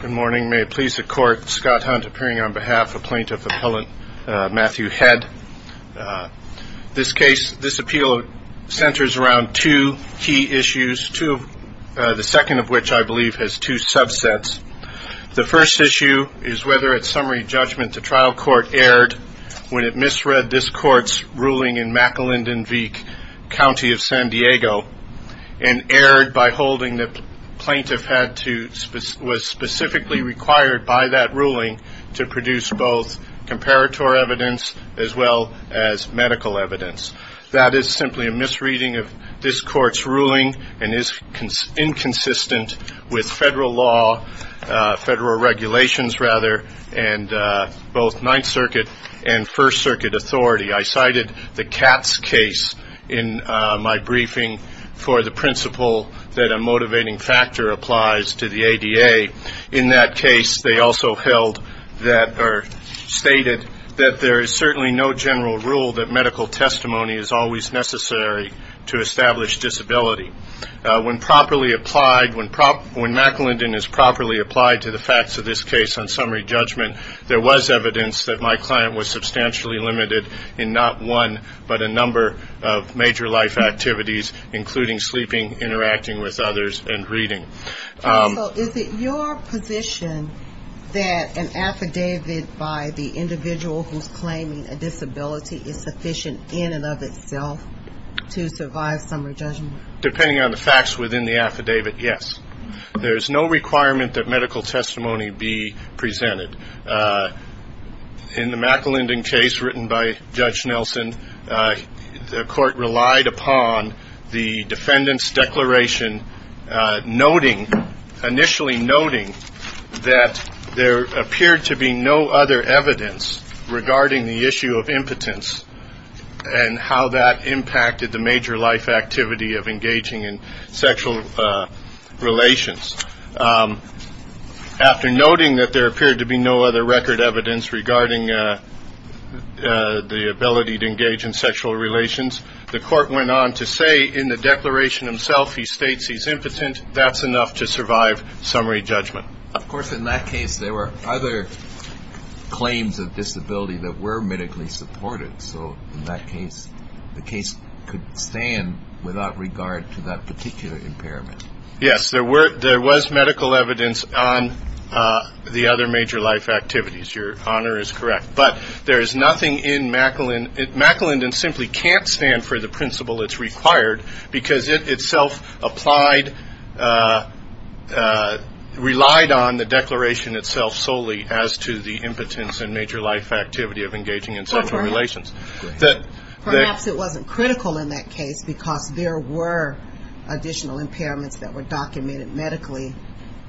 Good morning. May it please the Court, Scott Hunt appearing on behalf of Plaintiff Appellant Matthew Head. This case, this appeal centers around two key issues, the second of which I believe has two subsets. The first issue is whether at summary judgment the trial court erred when it misread this court's ruling in McElindan-Veek County of San Diego and erred by holding the plaintiff was specifically required by that ruling to produce both comparator evidence as well as medical evidence. That is simply a misreading of this court's ruling and is inconsistent with federal law, federal regulations rather, and both Ninth Circuit and First Circuit authority. I cited the Katz case in my briefing for the principle that a motivating factor applies to the ADA. In that case, they also held that or stated that there is certainly no general rule that medical testimony is always necessary to establish disability. When properly applied, when McElindan is properly applied to the facts of this case on summary judgment, there was evidence that my client was substantially limited in not one but a number of major life activities, including sleeping, interacting with others, and reading. So is it your position that an affidavit by the individual who is claiming a disability is sufficient in and of itself to survive summary judgment? Depending on the facts within the affidavit, yes. There is no requirement that medical testimony be presented. In the McElindan case written by Judge Nelson, the court relied upon the defendant's declaration, initially noting that there appeared to be no other evidence regarding the issue of impotence and how that impacted the major life activity of engaging in sexual relations. After noting that there appeared to be no other record evidence regarding the ability to engage in sexual relations, the court went on to say in the declaration himself he states he's impotent, that's enough to survive summary judgment. Of course in that case there were other claims of disability that were medically supported, so in that case the case could stand without regard to that particular impairment. Yes, there was medical evidence on the other major life activities, your honor is correct, but there is nothing in McElindan, McElindan simply can't stand for the principle it's self-applied, relied on the declaration itself solely as to the impotence and major life activity of engaging in sexual relations. Perhaps it wasn't critical in that case because there were additional impairments that were documented medically.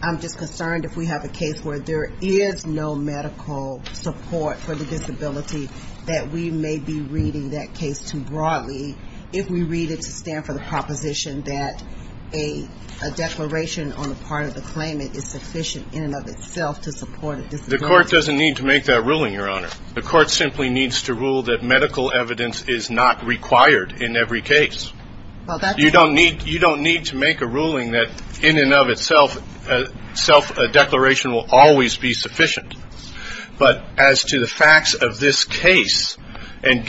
I'm just concerned if we have a case where there is no medical support for the disability that we may be reading that case too broadly if we read it to stand for the proposition that a declaration on the part of the claimant is sufficient in and of itself to support a disability. The court doesn't need to make that ruling, your honor. The court simply needs to rule that medical evidence is not required in every case. You don't need to make a ruling that in and of itself a declaration will always be sufficient, but as to the facts of this case, there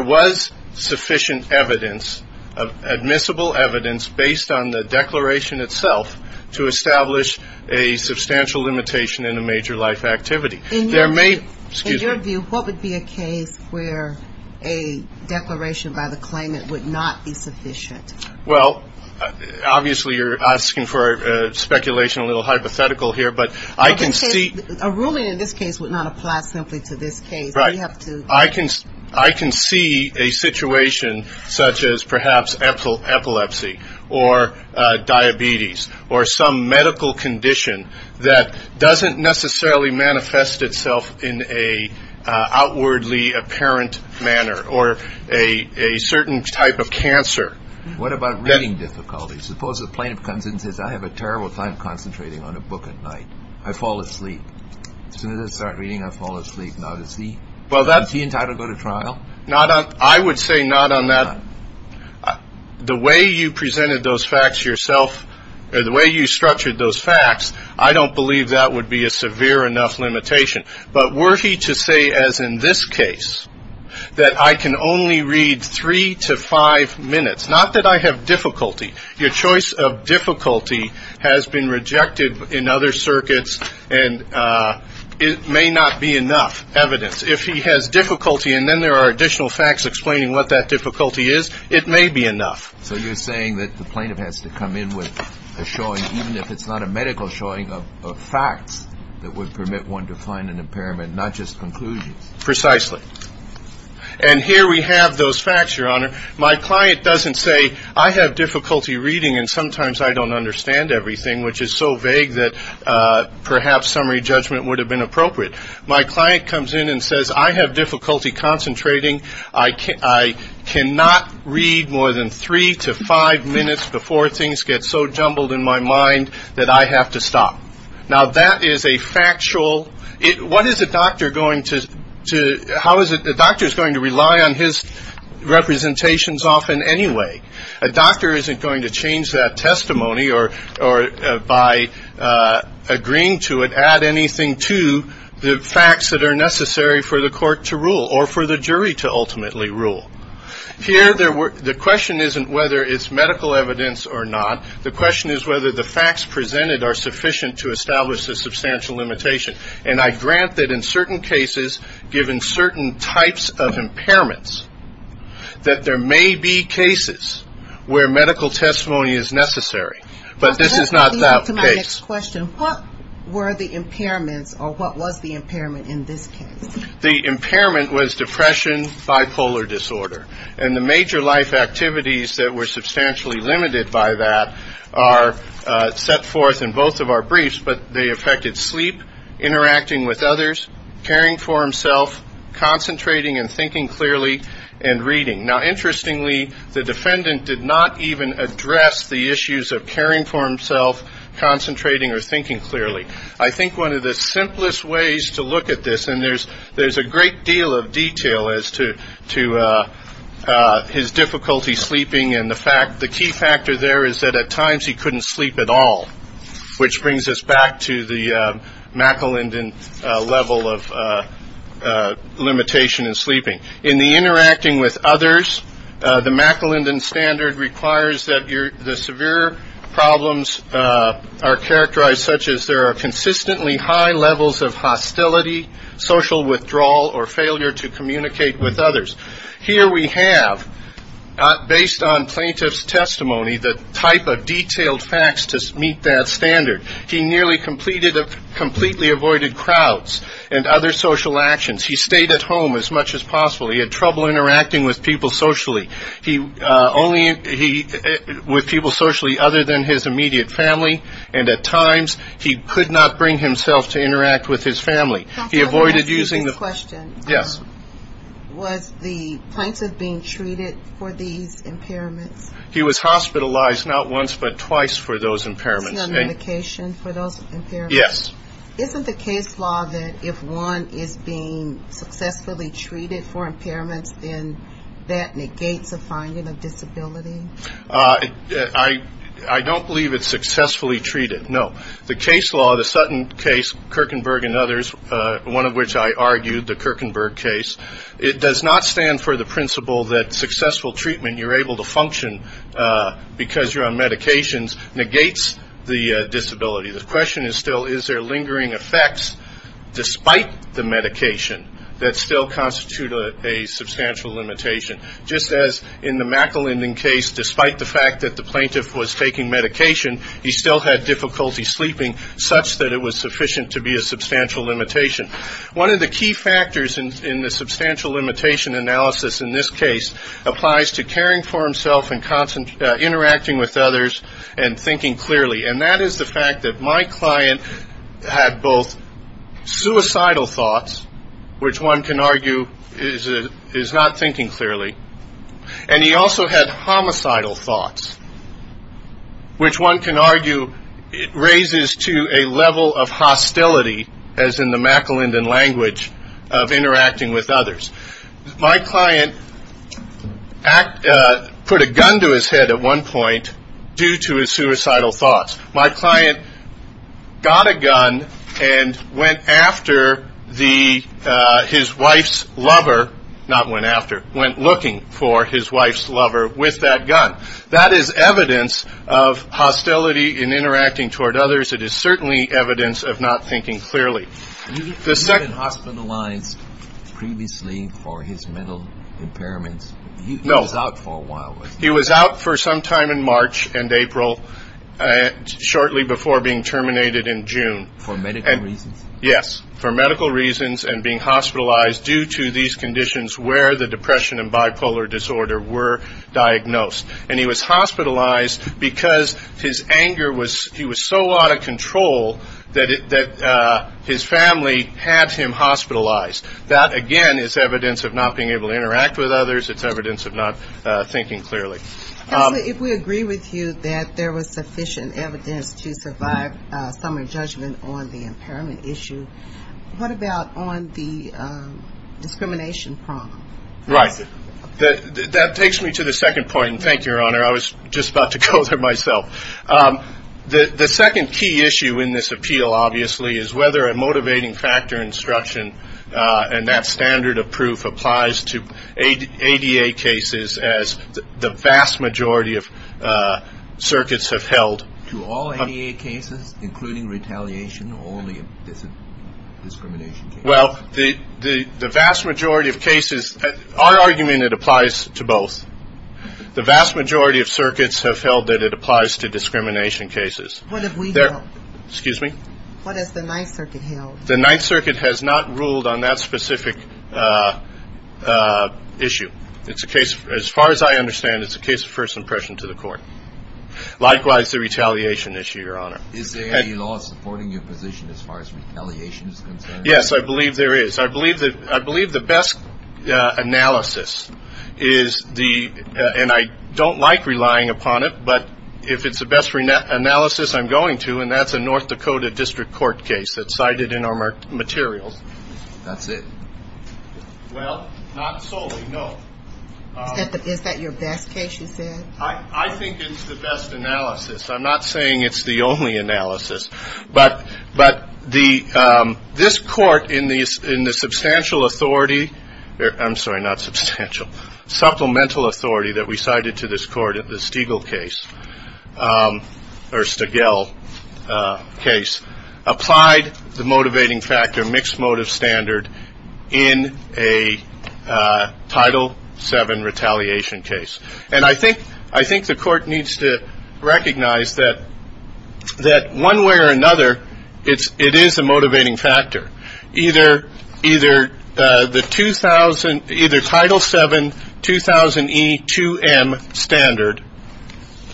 was sufficient evidence, admissible evidence based on the declaration itself to establish a substantial limitation in a major life activity. In your view, what would be a case where a declaration by the claimant would not be sufficient? Well, obviously you're asking for speculation, a little hypothetical here, but I can see A ruling in this case would not apply simply to this case. I can see a situation such as perhaps epilepsy or diabetes or some medical condition that doesn't necessarily manifest itself in an outwardly apparent manner or a certain type of cancer. What about reading difficulties? Suppose a plaintiff comes in and says, I have a terrible time concentrating on a book at night. I fall asleep. As soon as I start reading, I fall asleep. Is he entitled to go to trial? I would say not on that. The way you presented those facts yourself, the way you structured those facts, I don't believe that would be a severe enough limitation, but worthy to say as in this case that I can only read three to five minutes. Not that I have difficulty. Your choice of difficulty has been rejected in other circuits, and it may not be enough evidence. If he has difficulty and then there are additional facts explaining what that difficulty is, it may be enough. So you're saying that the plaintiff has to come in with a showing, even if it's not a medical showing, of facts that would permit one to find an impairment, not just conclusions. Precisely. And here we have those facts, Your Honor. My client doesn't say, I have difficulty reading and sometimes I don't understand everything, which is so vague that perhaps summary judgment would have been appropriate. My client comes in and says, I have difficulty concentrating. I cannot read more than three to five minutes before things get so jumbled in my mind that I have to stop. Now that is a factual, what is a doctor going to, how is a doctor going to rely on his representations often anyway? A doctor isn't going to change that testimony or by agreeing to it, add anything to the facts that are necessary for the court to rule or for the jury to ultimately rule. Here the question isn't whether it's medical evidence or not. The question is whether the facts presented are sufficient to establish a substantial limitation. And I grant that in certain cases, given certain types of impairments, that there may be cases where medical testimony is necessary. But this is not that case. My next question, what were the impairments or what was the impairment in this case? The impairment was depression, bipolar disorder. And the major life activities that were substantially limited by that are set forth in both of our briefs, but they affected sleep, interacting with others, caring for himself, concentrating and thinking clearly, and reading. Now interestingly, the defendant did not even address the issues of caring for himself, concentrating or thinking clearly. I think one of the simplest ways to look at this, and there's a great deal of detail as to his difficulty sleeping and the fact, the key factor there is that at times he couldn't sleep at all, which brings us back to the McElindan level of limitation in sleeping. In the interacting with others, the McElindan standard requires that the severe problems are characterized such as there are consistently high levels of hostility, social withdrawal, or failure to communicate with others. Here we have, based on plaintiff's testimony, the type of detailed facts to meet that standard. He nearly completely avoided crowds and other social actions. He stayed at home as much as possible. He had trouble interacting with people socially, with people socially other than his immediate family, and at times he could not bring himself to interact with his family. He avoided using the... I have to ask you this question. Yes. Was the plaintiff being treated for these impairments? He was hospitalized not once, but twice for those impairments. Was he on medication for those impairments? Yes. Isn't the case law that if one is being successfully treated for impairments, then that negates a finding of disability? I don't believe it's successfully treated, no. The case law, the Sutton case, Kirkenberg and others, one of which I argued, the Kirkenberg case, it does not stand for the principle that successful treatment, you're able to function because you're on medications, negates the disability. The question is still, is there lingering effects despite the medication that still constitute a substantial limitation? Just as in the McElinden case, despite the fact that the plaintiff was taking medication, he still had difficulty sleeping such that it was sufficient to be a substantial limitation. One of the key factors in the substantial limitation analysis in this case applies to caring for himself and interacting with others and thinking clearly. That is the fact that my client had both suicidal thoughts, which one can argue is not thinking clearly, and he also had homicidal thoughts, which one can argue raises to a level of hostility, as in the McElinden language of interacting with others. My client put a gun to his head at one point due to his suicidal thoughts. My client got a gun and went after his wife's lover, not went after, went looking for his hostility in interacting toward others. It is certainly evidence of not thinking clearly. You've been hospitalized previously for his mental impairments. He was out for a while. He was out for some time in March and April, shortly before being terminated in June. For medical reasons? Yes, for medical reasons and being hospitalized due to these conditions where the depression and bipolar disorder were diagnosed. And he was hospitalized because his anger was, he was so out of control that his family had him hospitalized. That again is evidence of not being able to interact with others. It's evidence of not thinking clearly. Counselor, if we agree with you that there was sufficient evidence to survive a summary judgment on the impairment issue, what about on the discrimination problem? Right. That takes me to the second point, and thank you, Your Honor. I was just about to go there myself. The second key issue in this appeal, obviously, is whether a motivating factor instruction and that standard of proof applies to ADA cases as the vast majority of circuits have held. To all ADA cases, including retaliation or only discrimination cases? Well, the vast majority of cases, our argument, it applies to both. The vast majority of circuits have held that it applies to discrimination cases. What have we held? Excuse me? What has the Ninth Circuit held? The Ninth Circuit has not ruled on that specific issue. It's a case, as far as I understand, it's a case of first impression to the court. Likewise, the retaliation issue, Your Honor. Is there any law supporting your position as far as retaliation is concerned? Yes, I believe there is. I believe the best analysis is the, and I don't like relying upon it, but if it's the best analysis, I'm going to, and that's a North Dakota District Court case that's cited in our materials. That's it? Well, not solely, no. Is that your best case, you said? I think it's the best analysis. I'm not saying it's the only analysis, but this court, in the substantial authority, I'm sorry, not substantial, supplemental authority that we cited to this court, the Stigall case, or Stigall case, applied the motivating factor, mixed motive standard, in a Title VII retaliation case. And I think the court needs to recognize that, one way or another, it is a motivating factor. Either Title VII 2000E2M standard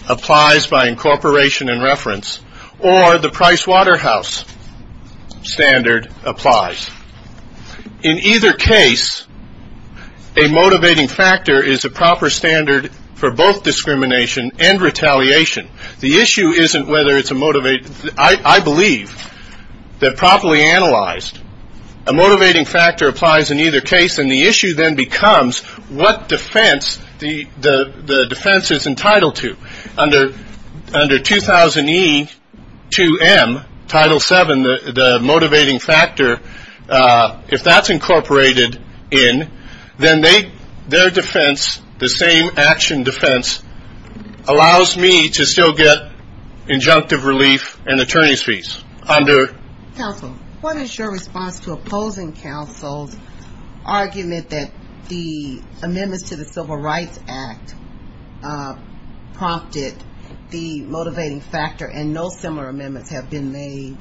applies by incorporation and reference, or the Price Waterhouse standard applies. In either case, a motivating factor is a proper standard for both discrimination and retaliation. The issue isn't whether it's a, I believe, that properly analyzed. A motivating factor applies in either case, and the issue then becomes what defense the defense is entitled to. Under 2000E2M, Title VII, the motivating factor, if that's incorporated in, then they, their defense, the same action defense, allows me to still get injunctive relief and attorney's fees. Counsel, what is your response to opposing counsel's argument that the amendments to the Civil Rights Act prompted the motivating factor, and no similar amendments have been made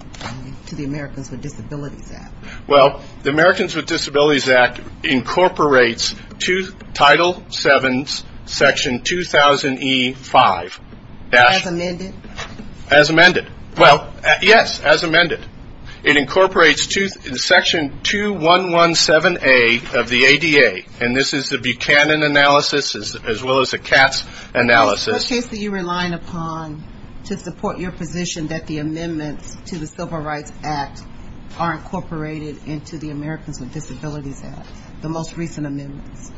to the Americans with Disabilities Act? Well, the Americans with Disabilities Act incorporates Title VII's Section 2000E5. As amended? As amended. Well, yes, as amended. It incorporates Section 2117A of the ADA, and this is the Buchanan analysis, as well as the Katz analysis. What case are you relying upon to support your position that the amendments to the Civil Rights Act are incorporated into the Americans with Disabilities Act, the most recent amendments?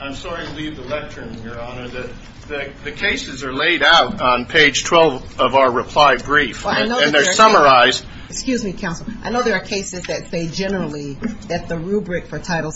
I'm sorry to leave the lectern, Your Honor, that the cases are laid out on page 12 of our reply brief, and they're summarized. Excuse me, Counsel. I know there are cases that say generally that the rubric for Title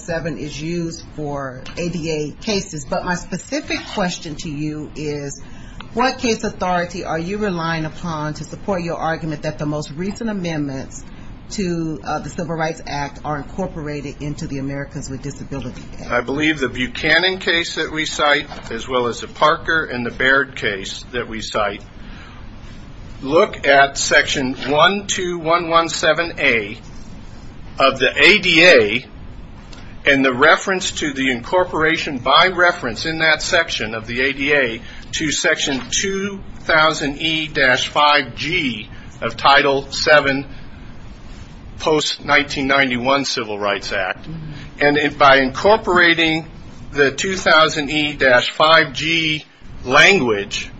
What case authority are you relying upon to support your argument that the most recent amendments to the Civil Rights Act are incorporated into the Americans with Disabilities Act? I believe the Buchanan case that we cite, as well as the Parker and the Baird case that we cite, look at Section 12117A of the ADA, and the reference to the incorporation by the ADA to Section 2000E-5G of Title VII post-1991 Civil Rights Act. And by incorporating the 2000E-5G language,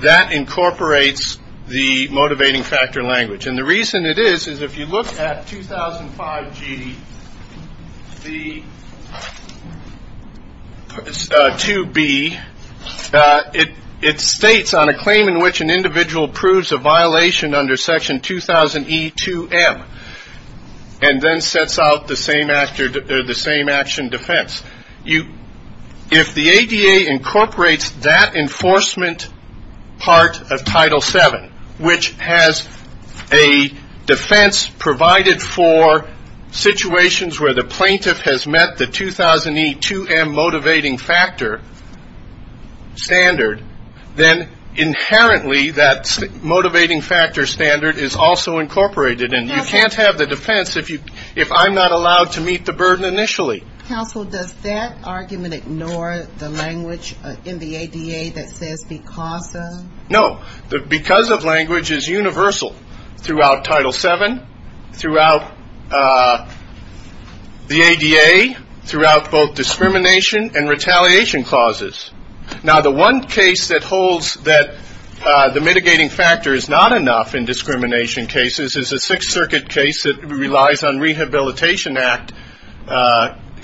that incorporates the motivating factor language. And the reason it states on a claim in which an individual proves a violation under Section 2000E-2M, and then sets out the same action defense. If the ADA incorporates that enforcement part of Title VII, which has a defense provided for situations where the plaintiff has met the 2000E-2M motivating factor standard, then inherently that motivating factor standard is also incorporated. And you can't have the defense if I'm not allowed to meet the burden initially. Counsel, does that argument ignore the language in the ADA that says because of? No. Because of language is universal throughout Title VII, throughout the ADA, throughout both discrimination and retaliation clauses. Now the one case that holds that the mitigating factor is not enough in discrimination cases is a Sixth Circuit case that relies on Rehabilitation Act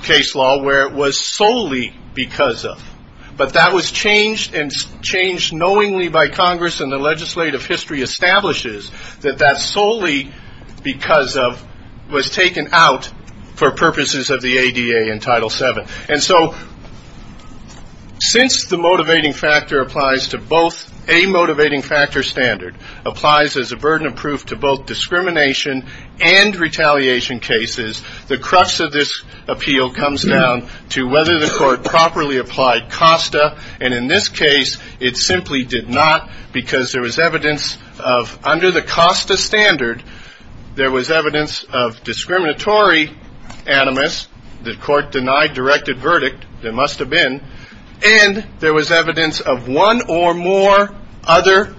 case law where it was solely because of. But that was changed knowingly by Congress and the legislative history establishes that that solely because of was taken out for purposes of the ADA in Title VII. And so since the motivating factor applies to both a motivating appeal comes down to whether the court properly applied COSTA. And in this case, it simply did not because there was evidence of under the COSTA standard, there was evidence of discriminatory animus. The court denied directed verdict. There must have been. And there was evidence of one or more other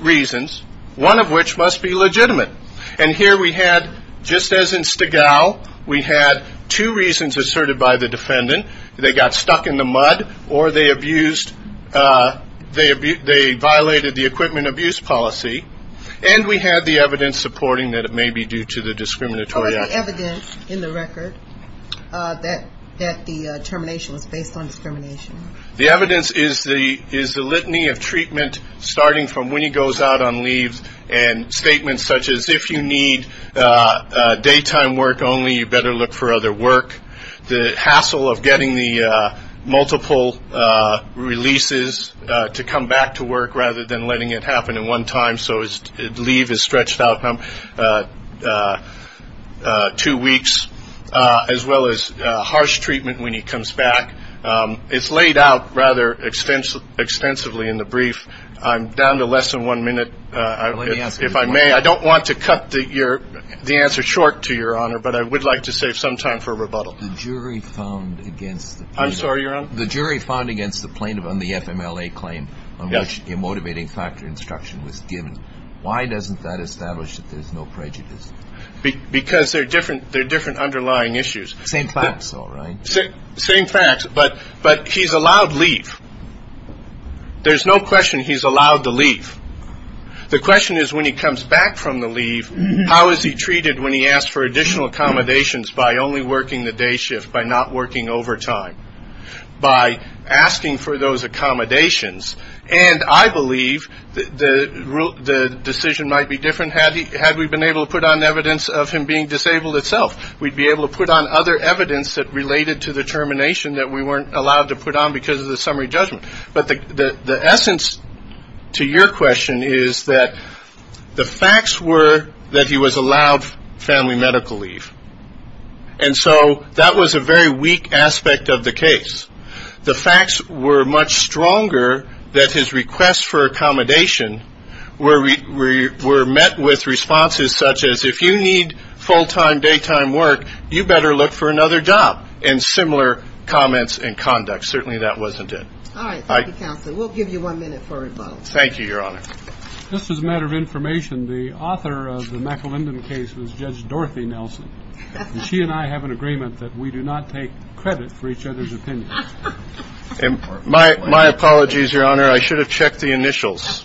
reasons, one of which must be legitimate. And here we have had, just as in Stigall, we had two reasons asserted by the defendant. They got stuck in the mud or they abused, they violated the equipment abuse policy. And we had the evidence supporting that it may be due to the discriminatory action. Or the evidence in the record that the termination was based on discrimination. The evidence is the litany of treatment starting from when he goes out on leave and statements such as if you need daytime work only, you better look for other work. The hassle of getting the multiple releases to come back to work rather than letting it happen at one time so his leave is stretched out two weeks. As well as harsh treatment when he comes back. It's laid out rather extensively in the brief. I'm down to less than one minute. If I may, I don't want to cut the answer short to your honor, but I would like to save some time for rebuttal. The jury found against the plaintiff on the FMLA claim on which the motivating factor instruction was given, why doesn't that establish that there's no prejudice? Because there are different underlying issues. Same facts, all right. The question is when he comes back from the leave, how is he treated when he asks for additional accommodations by only working the day shift, by not working overtime? By asking for those accommodations, and I believe the decision might be different had we been able to put on evidence of him being disabled itself. We'd be able to put on other evidence that related to the termination that we weren't allowed to put on because of the summary judgment. But the essence to your question is that the facts were that he was allowed family medical leave. And so that was a very weak aspect of the case. The facts were much stronger that his requests for accommodation were met with responses such as, if you need full-time, daytime work, you better look for another job. And similar comments and conduct. Certainly that wasn't it. All right. Thank you, counsel. We'll give you one minute for rebuttal. Thank you, Your Honor. Just as a matter of information, the author of the McElindan case was Judge Dorothy Nelson. And she and I have an agreement that we do not take credit for each other's opinions. My apologies, Your Honor. I should have checked the initials.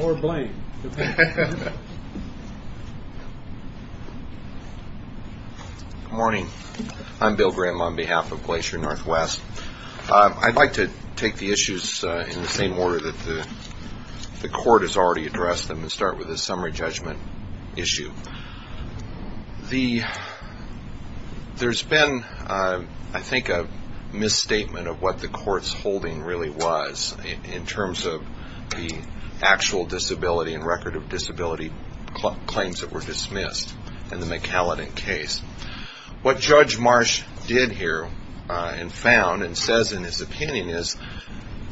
Or blame. Good morning. I'm Bill Graham on behalf of Glacier Northwest. I'd like to take the issues in the same order that the court has already addressed them and start with the summary judgment issue. There's been, I think, a misstatement of what the court's holding really was in terms of the actual disability and record of disability claims that were dismissed in the McElindan case. What Judge Marsh did here and found and says in his opinion is,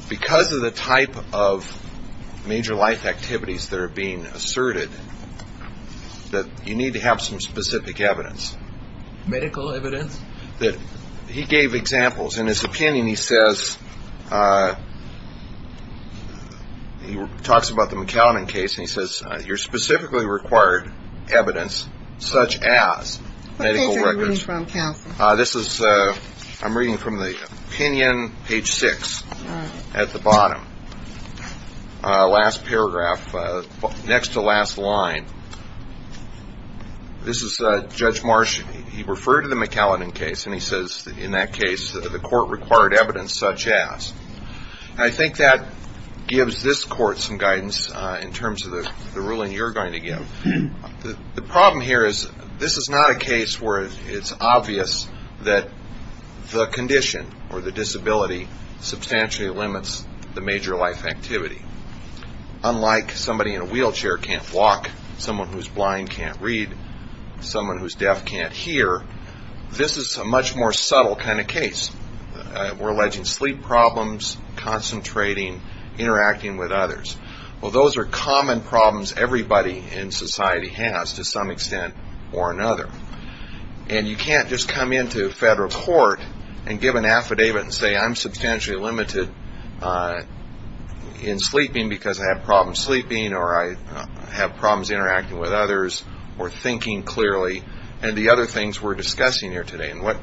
because of the type of major life activities that are being asserted, that you need to have some specific evidence. Medical evidence? He gave examples. In his opinion, he says, he talks about the McElindan case and he says, you're specifically required evidence such as medical records. What page are you reading from, counsel? This is, I'm reading from the opinion, page six at the bottom. Last paragraph, next to last line. This is Judge Marsh. He referred to the McElindan case and he says in that case the court required evidence such as. I think that gives this court some guidance in terms of the ruling you're going to give. The problem here is this is not a case where it's obvious that the condition or the disability substantially limits the major life activity. Unlike somebody in a wheelchair can't walk, someone who's blind can't read, someone who's deaf can't hear, this is a much more subtle kind of case. We're alleging sleep problems, concentrating, interacting with others. Well, those are common problems everybody in society has to some extent or another. And you can't just come into federal court and give an affidavit and say, I'm substantially limited in sleeping because I have problems sleeping or I have problems interacting with others or thinking clearly. And the other things we're discussing here today. And what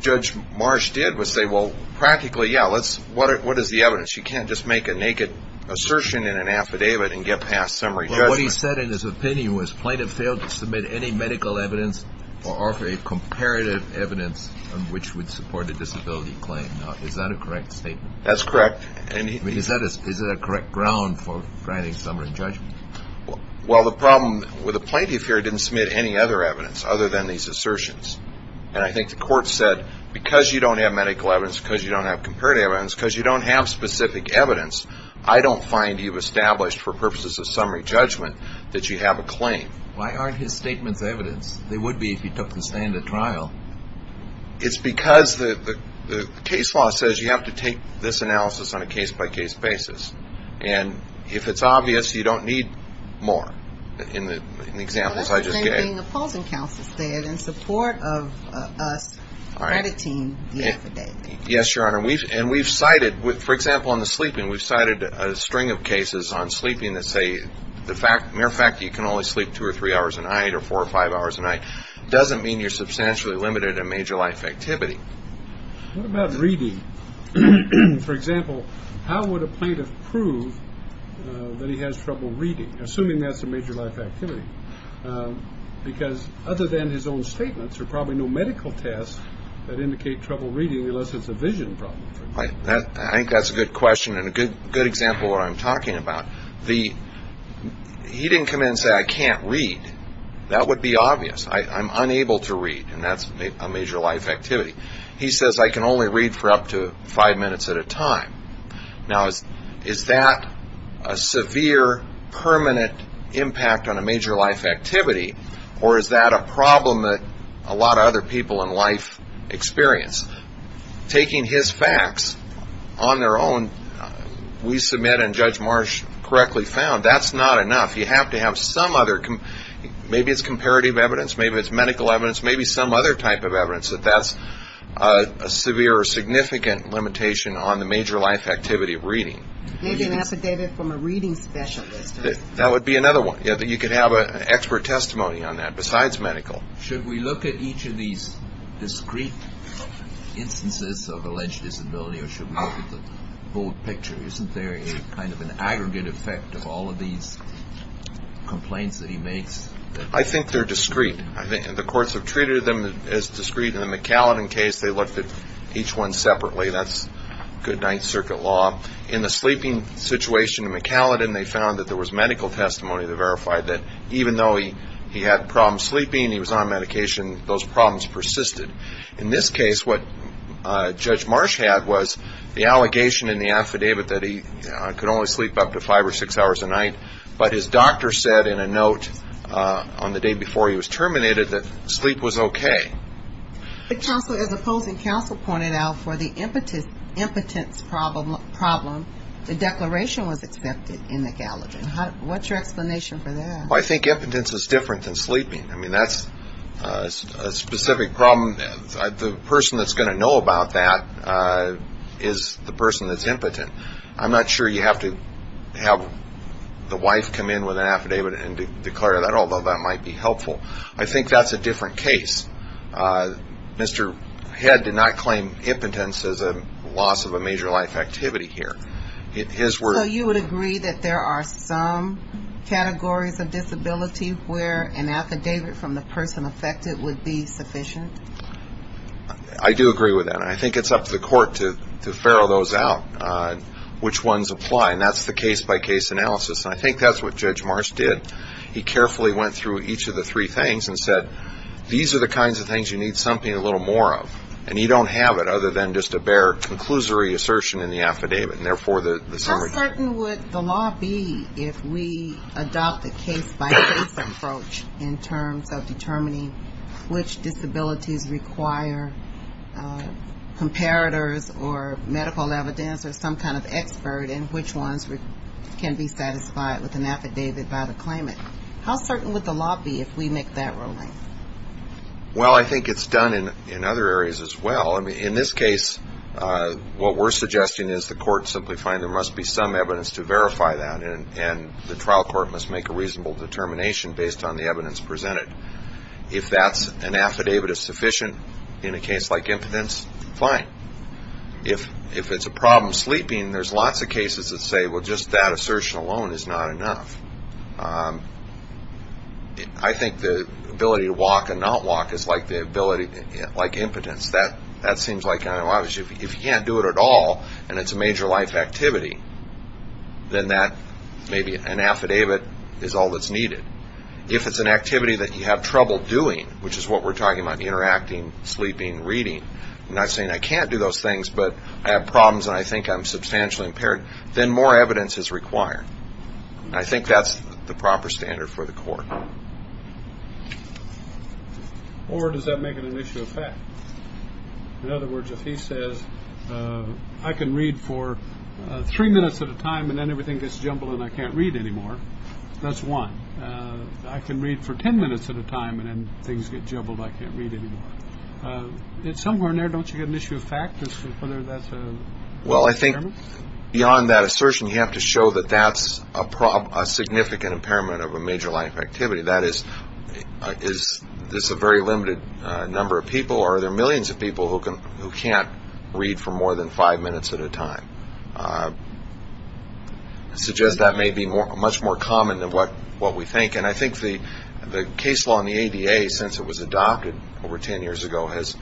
Judge Marsh did was say, well, practically, yeah, what is the evidence? You can't just make a naked assertion in an affidavit and get past summary judgment. What he said in his opinion was plaintiff failed to submit any medical evidence or offer a comparative evidence which would support a disability claim. Is that a correct statement? That's correct. Is that a correct ground for granting summary judgment? Well, the problem with the plaintiff here didn't submit any other evidence other than these assertions. And I think the court said, because you don't have medical evidence, because you don't have comparative evidence, because you don't have specific evidence, I don't find you've established for purposes of summary judgment that you have a claim. Why aren't his statements evidence? They would be if he took the stand at trial. It's because the case law says you have to take this analysis on a case-by-case basis. And if it's obvious, you don't need more. In the examples I just gave. Well, that's the same thing the pausing counsel said in support of us crediting the affidavit. Yes, Your Honor. And we've cited, for example, in the sleeping, we've cited a string of cases on sleeping that say the mere fact that you can only sleep two or three hours a night or four or five hours a night doesn't mean you're substantially limited in major life activity. What about reading? For example, how would a plaintiff prove that he has trouble reading, assuming that's a major life activity? Because other than his own statements, there are probably no medical tests that indicate trouble reading unless it's a vision problem. I think that's a good question and a good example of what I'm talking about. He didn't come in and say, I can't read. That would be obvious. I'm unable to read, and that's a major life activity. He says, I can only read for up to five minutes at a time. Now, is that a severe, permanent impact on a major life activity, or is that a problem that a lot of other people in life experience? Taking his facts on their own, we submit and Judge Marsh correctly found, that's not enough. You have to have some other, maybe it's comparative evidence, maybe it's medical evidence, maybe some other type of evidence that that's a severe or significant limitation on the major life activity of reading. Maybe an affidavit from a reading specialist. That would be another one. You could have an expert testimony on that besides medical. Should we look at each of these discrete instances of alleged disability, or should we look at the whole picture? Isn't there kind of an aggregate effect of all of these complaints that he makes? I think they're discrete. The courts have treated them as discrete. In the McAllen case, they looked at each one separately. That's good Ninth Circuit law. In the sleeping situation in McAllen, they found that there was medical testimony that verified that even though he had problems sleeping, he was on medication, those problems persisted. In this case, what Judge Marsh had was the allegation in the affidavit that he could only sleep up to five or six hours a night, but his doctor said in a note on the day before he was terminated that sleep was okay. As opposing counsel pointed out, for the impotence problem, the declaration was accepted in McAllen. What's your explanation for that? I think impotence is different than sleeping. I mean, that's a specific problem. The person that's going to know about that is the person that's impotent. I'm not sure you have to have the wife come in with an affidavit and declare that, although that might be helpful. I think that's a different case. Mr. Head did not claim impotence as a loss of a major life activity here. So you would agree that there are some categories of disability where an affidavit from the person affected would be sufficient? I do agree with that, and I think it's up to the court to ferrule those out, which ones apply. And that's the case-by-case analysis, and I think that's what Judge Marsh did. He carefully went through each of the three things and said, these are the kinds of things you need something a little more of, and you don't have it other than just a bare conclusory assertion in the affidavit, and therefore the summary. How certain would the law be if we adopt a case-by-case approach in terms of determining which disabilities require comparators or medical evidence or some kind of expert, and which ones can be satisfied with an affidavit by the claimant? How certain would the law be if we make that ruling? Well, I think it's done in other areas as well. In this case, what we're suggesting is the court simply find there must be some evidence to verify that, and the trial court must make a reasonable determination based on the evidence presented. If that's an affidavit is sufficient in a case like impotence, fine. If it's a problem sleeping, there's lots of cases that say, well, just that assertion alone is not enough. I think the ability to walk and not walk is like impotence. That seems like, if you can't do it at all, and it's a major life activity, then maybe an affidavit is all that's needed. If it's an activity that you have trouble doing, which is what we're talking about, interacting, sleeping, reading, not saying I can't do those things, but I have problems and I think I'm substantially impaired, then more evidence is required. I think that's the proper standard for the court. Or does that make it an issue of fact? In other words, if he says, I can read for three minutes at a time and then everything gets jumbled and I can't read anymore, that's one. I can read for 10 minutes at a time and then things get jumbled, I can't read anymore. It's somewhere in there, don't you get an issue of fact as to whether that's a requirement? Beyond that assertion, you have to show that that's a significant impairment of a major life activity. That is, is this a very limited number of people or are there millions of people who can't read for more than five minutes at a time? I suggest that may be much more common than what we think. And I think the case law in the ADA, since it was adopted over 10 years ago, has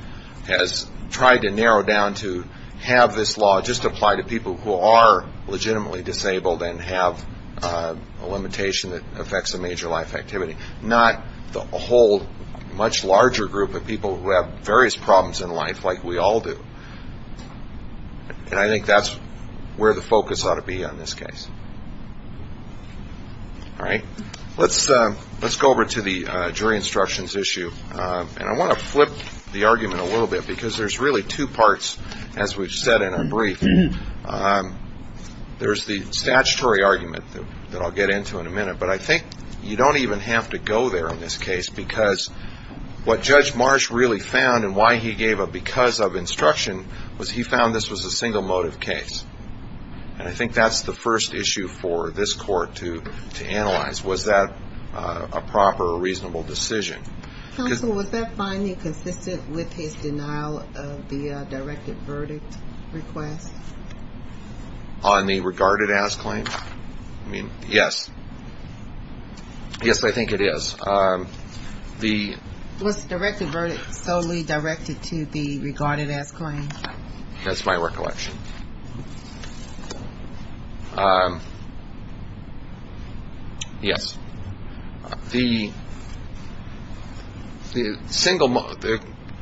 tried to narrow down to have this law just apply to people who are legitimately disabled and have a limitation that affects a major life activity, not the whole much larger group of people who have various problems in life like we all do. And I think that's where the focus ought to be on this case. Let's go over to the jury instructions issue. And I want to flip the argument a little bit because there's really two parts, as we've said in our brief. There's the statutory argument that I'll get into in a minute. But I think you don't even have to go there in this case because what Judge Marsh really found and why he gave a because of instruction was he found this was a single motive case. And I think that's the first issue for this court to analyze. Was that a proper, reasonable decision? Counsel, was that finding consistent with his denial of the directed verdict request? On the regarded as claim? I mean, yes. Yes, I think it is. Was directed verdict solely directed to the regarded as claim? That's my recollection. Yes. The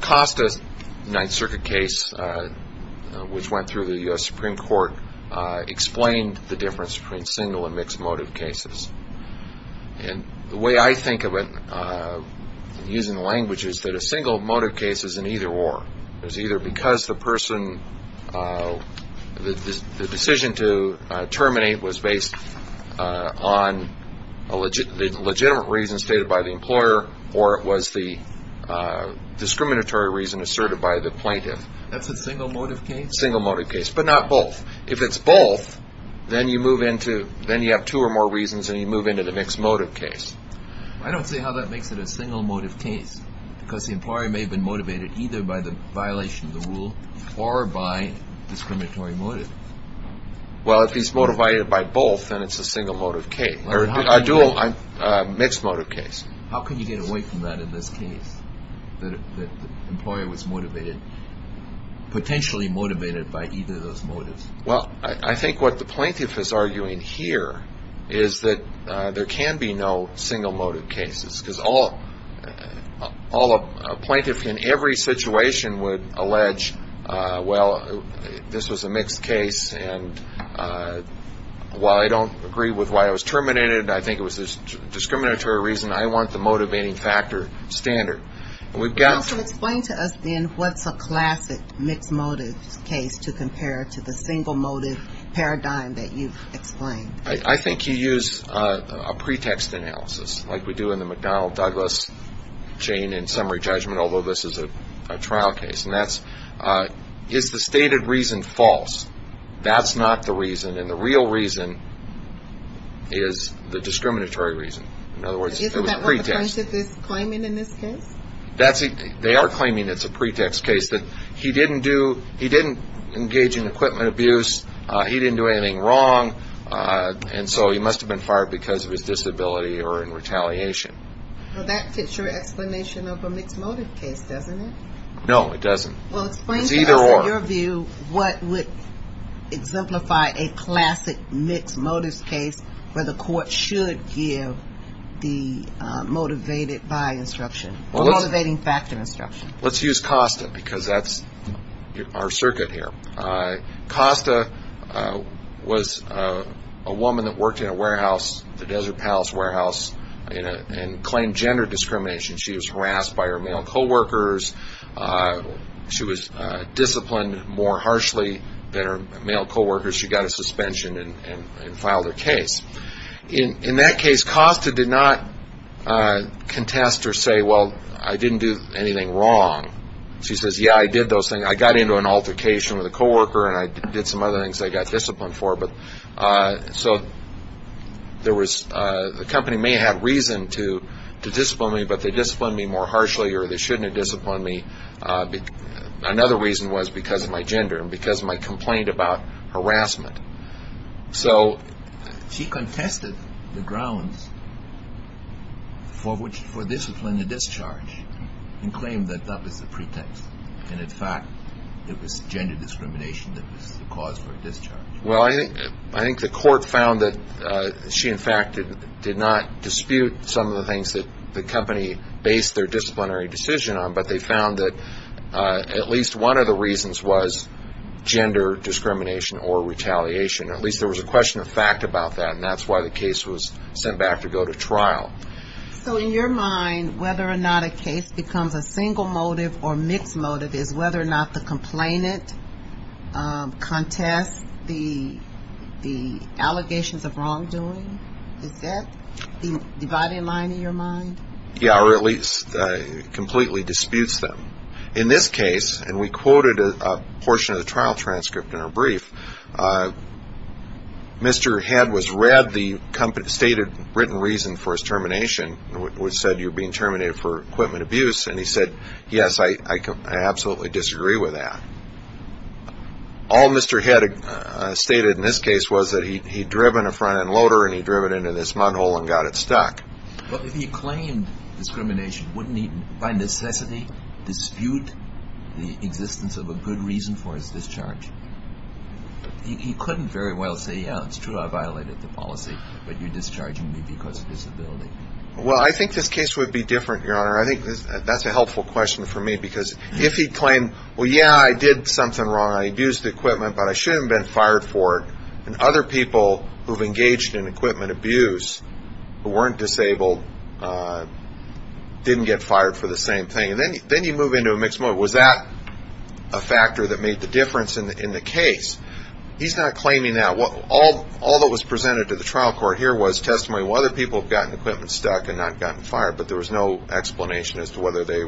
cost of the Ninth Circuit case, which went through the U.S. Supreme Court, explained the difference between single and mixed motive cases. And the way I think of it, using the language, is that a single motive case is an either or. It's either because the person, the decision to terminate was based on a legitimate reason stated by the employer or it was the discriminatory reason asserted by the plaintiff. That's a single motive case? Single motive case, but not both. If it's both, then you have two or more reasons and you move into the mixed motive case. I don't see how that makes it a single motive case because the employer may have been motivated either by the violation of the rule or by discriminatory motive. Well, if he's motivated by both, then it's a single motive case. Or a mixed motive case. How can you get away from that in this case, that the employer was motivated, potentially motivated by either of those motives? Well, I think what the plaintiff is arguing here is that there can be no single motive cases because a plaintiff in every situation would allege, well, this was a mixed case and while I don't agree with why it was terminated, I think it was a discriminatory reason, I want the motivating factor standard. Counsel, explain to us then what's a classic mixed motive case to compare to the single motive paradigm that you've explained. I think you use a pretext analysis like we do in the McDonnell-Douglas chain in summary judgment, although this is a trial case, and that's, is the stated reason false? That's not the reason, and the real reason is the discriminatory reason. In other words, it was a pretext. Isn't that what the plaintiff is claiming in this case? They are claiming it's a pretext case, that he didn't engage in equipment abuse, he didn't do anything wrong, and so he must have been fired because of his disability or in retaliation. Well, that fits your explanation of a mixed motive case, doesn't it? No, it doesn't. Well, explain to us in your view what would exemplify a classic mixed motives case where the court should give the motivated by instruction, the motivating factor instruction. Let's use Costa because that's our circuit here. Costa was a woman that worked in a warehouse, the Desert Palace warehouse, and claimed gender discrimination. She was harassed by her male co-workers. She was disciplined more harshly than her male co-workers. She got a suspension and filed her case. In that case, Costa did not contest or say, well, I didn't do anything wrong. She says, yeah, I did those things. I got into an altercation with a co-worker, and I did some other things I got disciplined for. So the company may have reason to discipline me, but they disciplined me more harshly, or they shouldn't have disciplined me. Another reason was because of my gender and because of my complaint about harassment. So she contested the grounds for disciplinary discharge and claimed that that was the pretext. And, in fact, it was gender discrimination that was the cause for discharge. Well, I think the court found that she, in fact, did not dispute some of the things that the company based their disciplinary decision on, but they found that at least one of the reasons was gender discrimination or retaliation. At least there was a question of fact about that, and that's why the case was sent back to go to trial. So in your mind, whether or not a case becomes a single motive or mixed motive is whether or not the complainant contests the allegations of wrongdoing? Is that the dividing line in your mind? Yeah, or at least completely disputes them. In this case, and we quoted a portion of the trial transcript in our brief, Mr. Head was read the stated written reason for his termination, which said you're being terminated for equipment abuse, and he said, yes, I absolutely disagree with that. All Mr. Head stated in this case was that he'd driven a front-end loader and he'd driven it into this mud hole and got it stuck. But if he claimed discrimination, wouldn't he, by necessity, dispute the existence of a good reason for his discharge? He couldn't very well say, yeah, it's true, I violated the policy, but you're discharging me because of disability. Well, I think this case would be different, Your Honor. I think that's a helpful question for me because if he claimed, well, yeah, I did something wrong. I abused the equipment, but I shouldn't have been fired for it. And other people who have engaged in equipment abuse who weren't disabled didn't get fired for the same thing. And then you move into a mixed mode. Was that a factor that made the difference in the case? He's not claiming that. All that was presented to the trial court here was testimony of whether people had gotten equipment stuck and not gotten fired, but there was no explanation as to whether they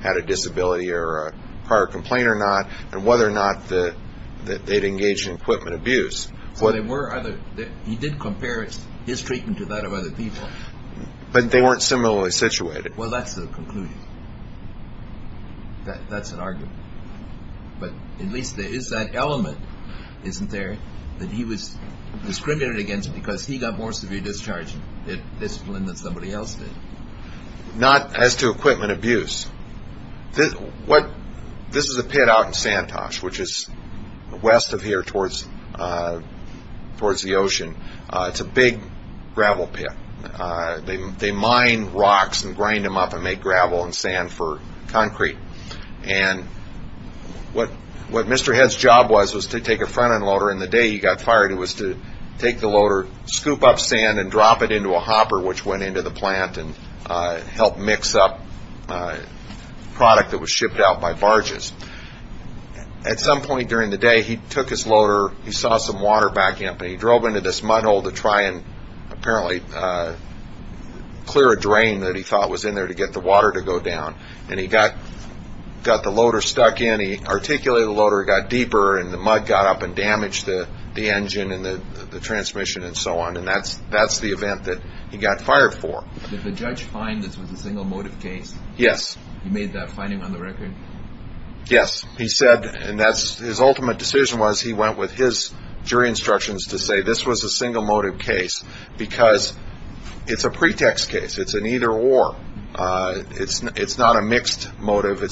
had a disability or a prior complaint or not and whether or not they'd engaged in equipment abuse. So he did compare his treatment to that of other people. But they weren't similarly situated. Well, that's the conclusion. That's an argument. But at least there is that element, isn't there, that he was discriminated against because he got more severe discharge discipline than somebody else did. Not as to equipment abuse. This is a pit out in Santosh, which is west of here towards the ocean. It's a big gravel pit. They mine rocks and grind them up and make gravel and sand for concrete. And what Mr. Head's job was was to take a front-end loader, and the day he got fired it was to take the loader, scoop up sand, and drop it into a hopper, which went into the plant and helped mix up product that was shipped out by barges. At some point during the day he took his loader, he saw some water backing up, and he drove into this mud hole to try and apparently clear a drain that he thought was in there to get the water to go down. And he got the loader stuck in, he articulated the loader, it got deeper, and the mud got up and damaged the engine and the transmission and so on. And that's the event that he got fired for. Did the judge find this was a single motive case? Yes. He made that finding on the record? Yes. He said his ultimate decision was he went with his jury instructions to say this was a single motive case because it's a pretext case. It's an either-or. It's not a mixed motive. It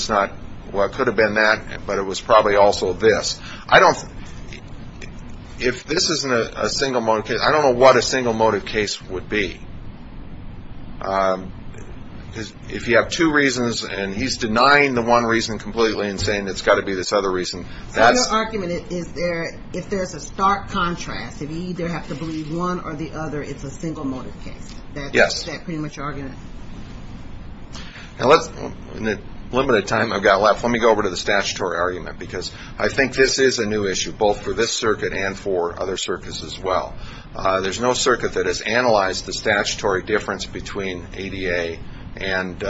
could have been that, but it was probably also this. If this isn't a single motive case, I don't know what a single motive case would be. If you have two reasons and he's denying the one reason completely and saying it's got to be this other reason. So your argument is if there's a stark contrast, if you either have to believe one or the other, it's a single motive case. Yes. Is that pretty much your argument? In the limited time I've got left, let me go over to the statutory argument because I think this is a new issue both for this circuit and for other circuits as well. There's no circuit that has analyzed the statutory difference between ADA and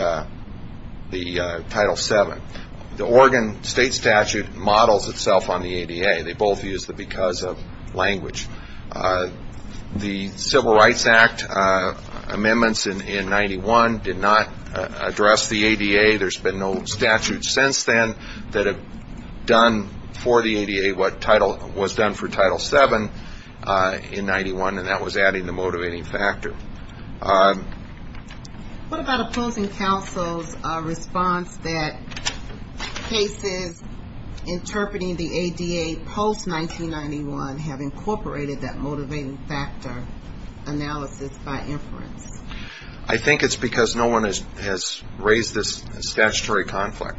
Title VII. The Oregon state statute models itself on the ADA. They both use the because of language. The Civil Rights Act amendments in 1991 did not address the ADA. There's been no statute since then that was done for Title VII in 1991, and that was adding the motivating factor. What about opposing counsel's response that cases interpreting the ADA post-1991 have incorporated that motivating factor analysis by inference? I think it's because no one has raised this statutory conflict.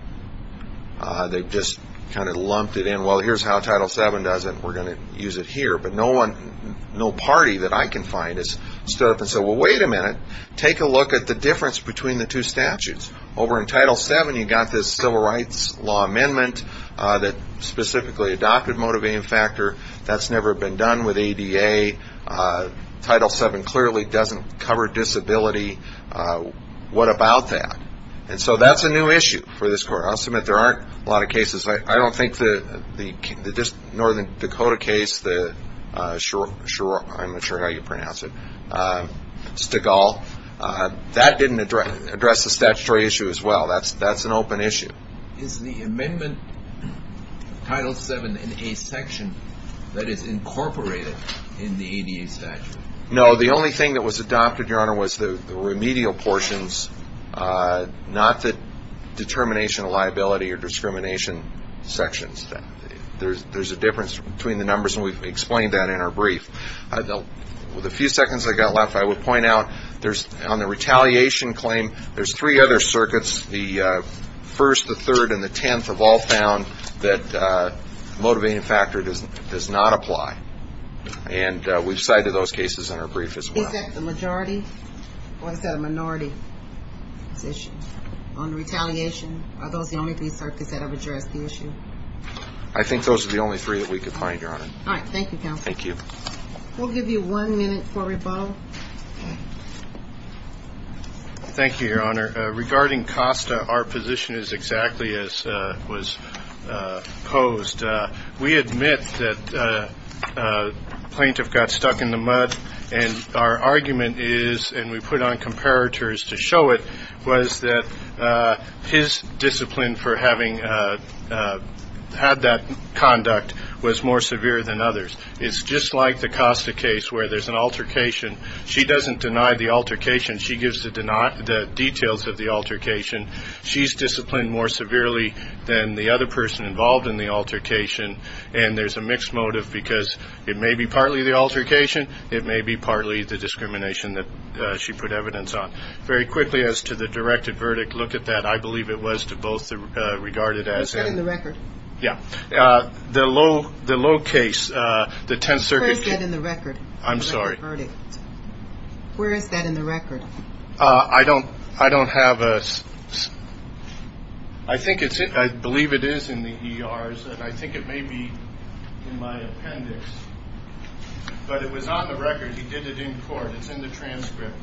They've just kind of lumped it in. Well, here's how Title VII does it. We're going to use it here. But no party that I can find has stood up and said, well, wait a minute. Take a look at the difference between the two statutes. Over in Title VII, you've got this Civil Rights Law amendment that specifically adopted motivating factor. That's never been done with ADA. Title VII clearly doesn't cover disability. What about that? And so that's a new issue for this court. I'll submit there aren't a lot of cases. I don't think the Northern Dakota case, I'm not sure how you pronounce it, Stigall, that didn't address the statutory issue as well. That's an open issue. Is the amendment Title VII in a section that is incorporated in the ADA statute? No. The only thing that was adopted, Your Honor, was the remedial portions, not the determination of liability or discrimination sections. There's a difference between the numbers, and we've explained that in our brief. With the few seconds I've got left, I would point out on the retaliation claim, there's three other circuits. The first, the third, and the tenth have all found that the motivating factor does not apply. And we've cited those cases in our brief as well. Is that the majority or is that a minority position on the retaliation? Are those the only three circuits that have addressed the issue? I think those are the only three that we could find, Your Honor. All right. Thank you, counsel. Thank you. We'll give you one minute for rebuttal. Thank you, Your Honor. Regarding Costa, our position is exactly as was posed. We admit that a plaintiff got stuck in the mud, and our argument is, and we put on comparators to show it, was that his discipline for having had that conduct was more severe than others. It's just like the Costa case where there's an altercation. She doesn't deny the altercation. She gives the details of the altercation. She's disciplined more severely than the other person involved in the altercation, and there's a mixed motive because it may be partly the altercation, it may be partly the discrimination that she put evidence on. Very quickly, as to the directed verdict, look at that. I believe it was to both regarded as and. What's that in the record? Yeah. The low case, the tenth circuit case. What's that in the record? I'm sorry. Where is that in the record? I don't have a – I think it's – I believe it is in the ERs, and I think it may be in my appendix, but it was on the record. He did it in court. It's in the transcript.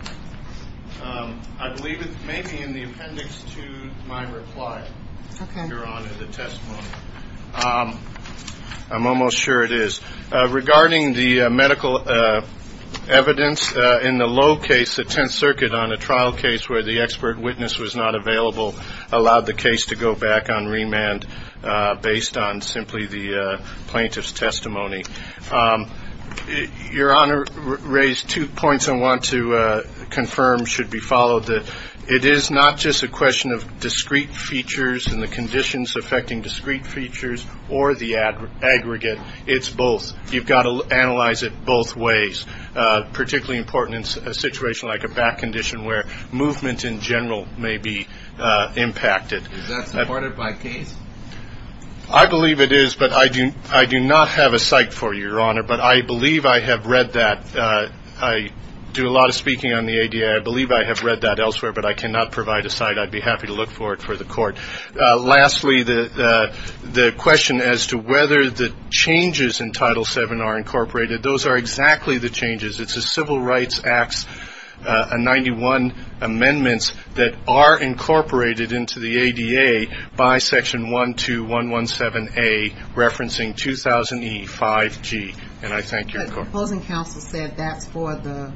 I believe it may be in the appendix to my reply, Your Honor, the testimony. I'm almost sure it is. Regarding the medical evidence, in the low case, the tenth circuit on a trial case where the expert witness was not available allowed the case to go back on remand based on simply the plaintiff's testimony. Your Honor raised two points I want to confirm should be followed. It is not just a question of discrete features and the conditions affecting discrete features or the aggregate. It's both. You've got to analyze it both ways, particularly important in a situation like a back condition where movement in general may be impacted. Is that supported by case? I believe it is, but I do not have a site for you, Your Honor, but I believe I have read that. I do a lot of speaking on the ADA. I believe I have read that elsewhere, but I cannot provide a site. I'd be happy to look for it for the court. Lastly, the question as to whether the changes in Title VII are incorporated. Those are exactly the changes. It's the Civil Rights Act's 91 amendments that are incorporated into the ADA by Section 12117A, referencing 2000E5G, and I thank your court. But the opposing counsel said that's for the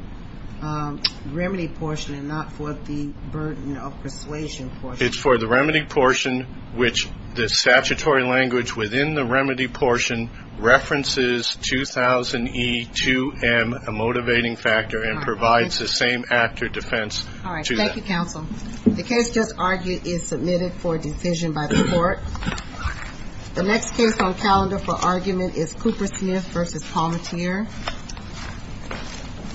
remedy portion and not for the burden of persuasion portion. It's for the remedy portion, which the statutory language within the remedy portion references 2000E2M, a motivating factor, and provides the same act or defense to that. All right. Thank you, counsel. The next case on calendar for argument is Cooper Smith v. Palmatier. Thank you.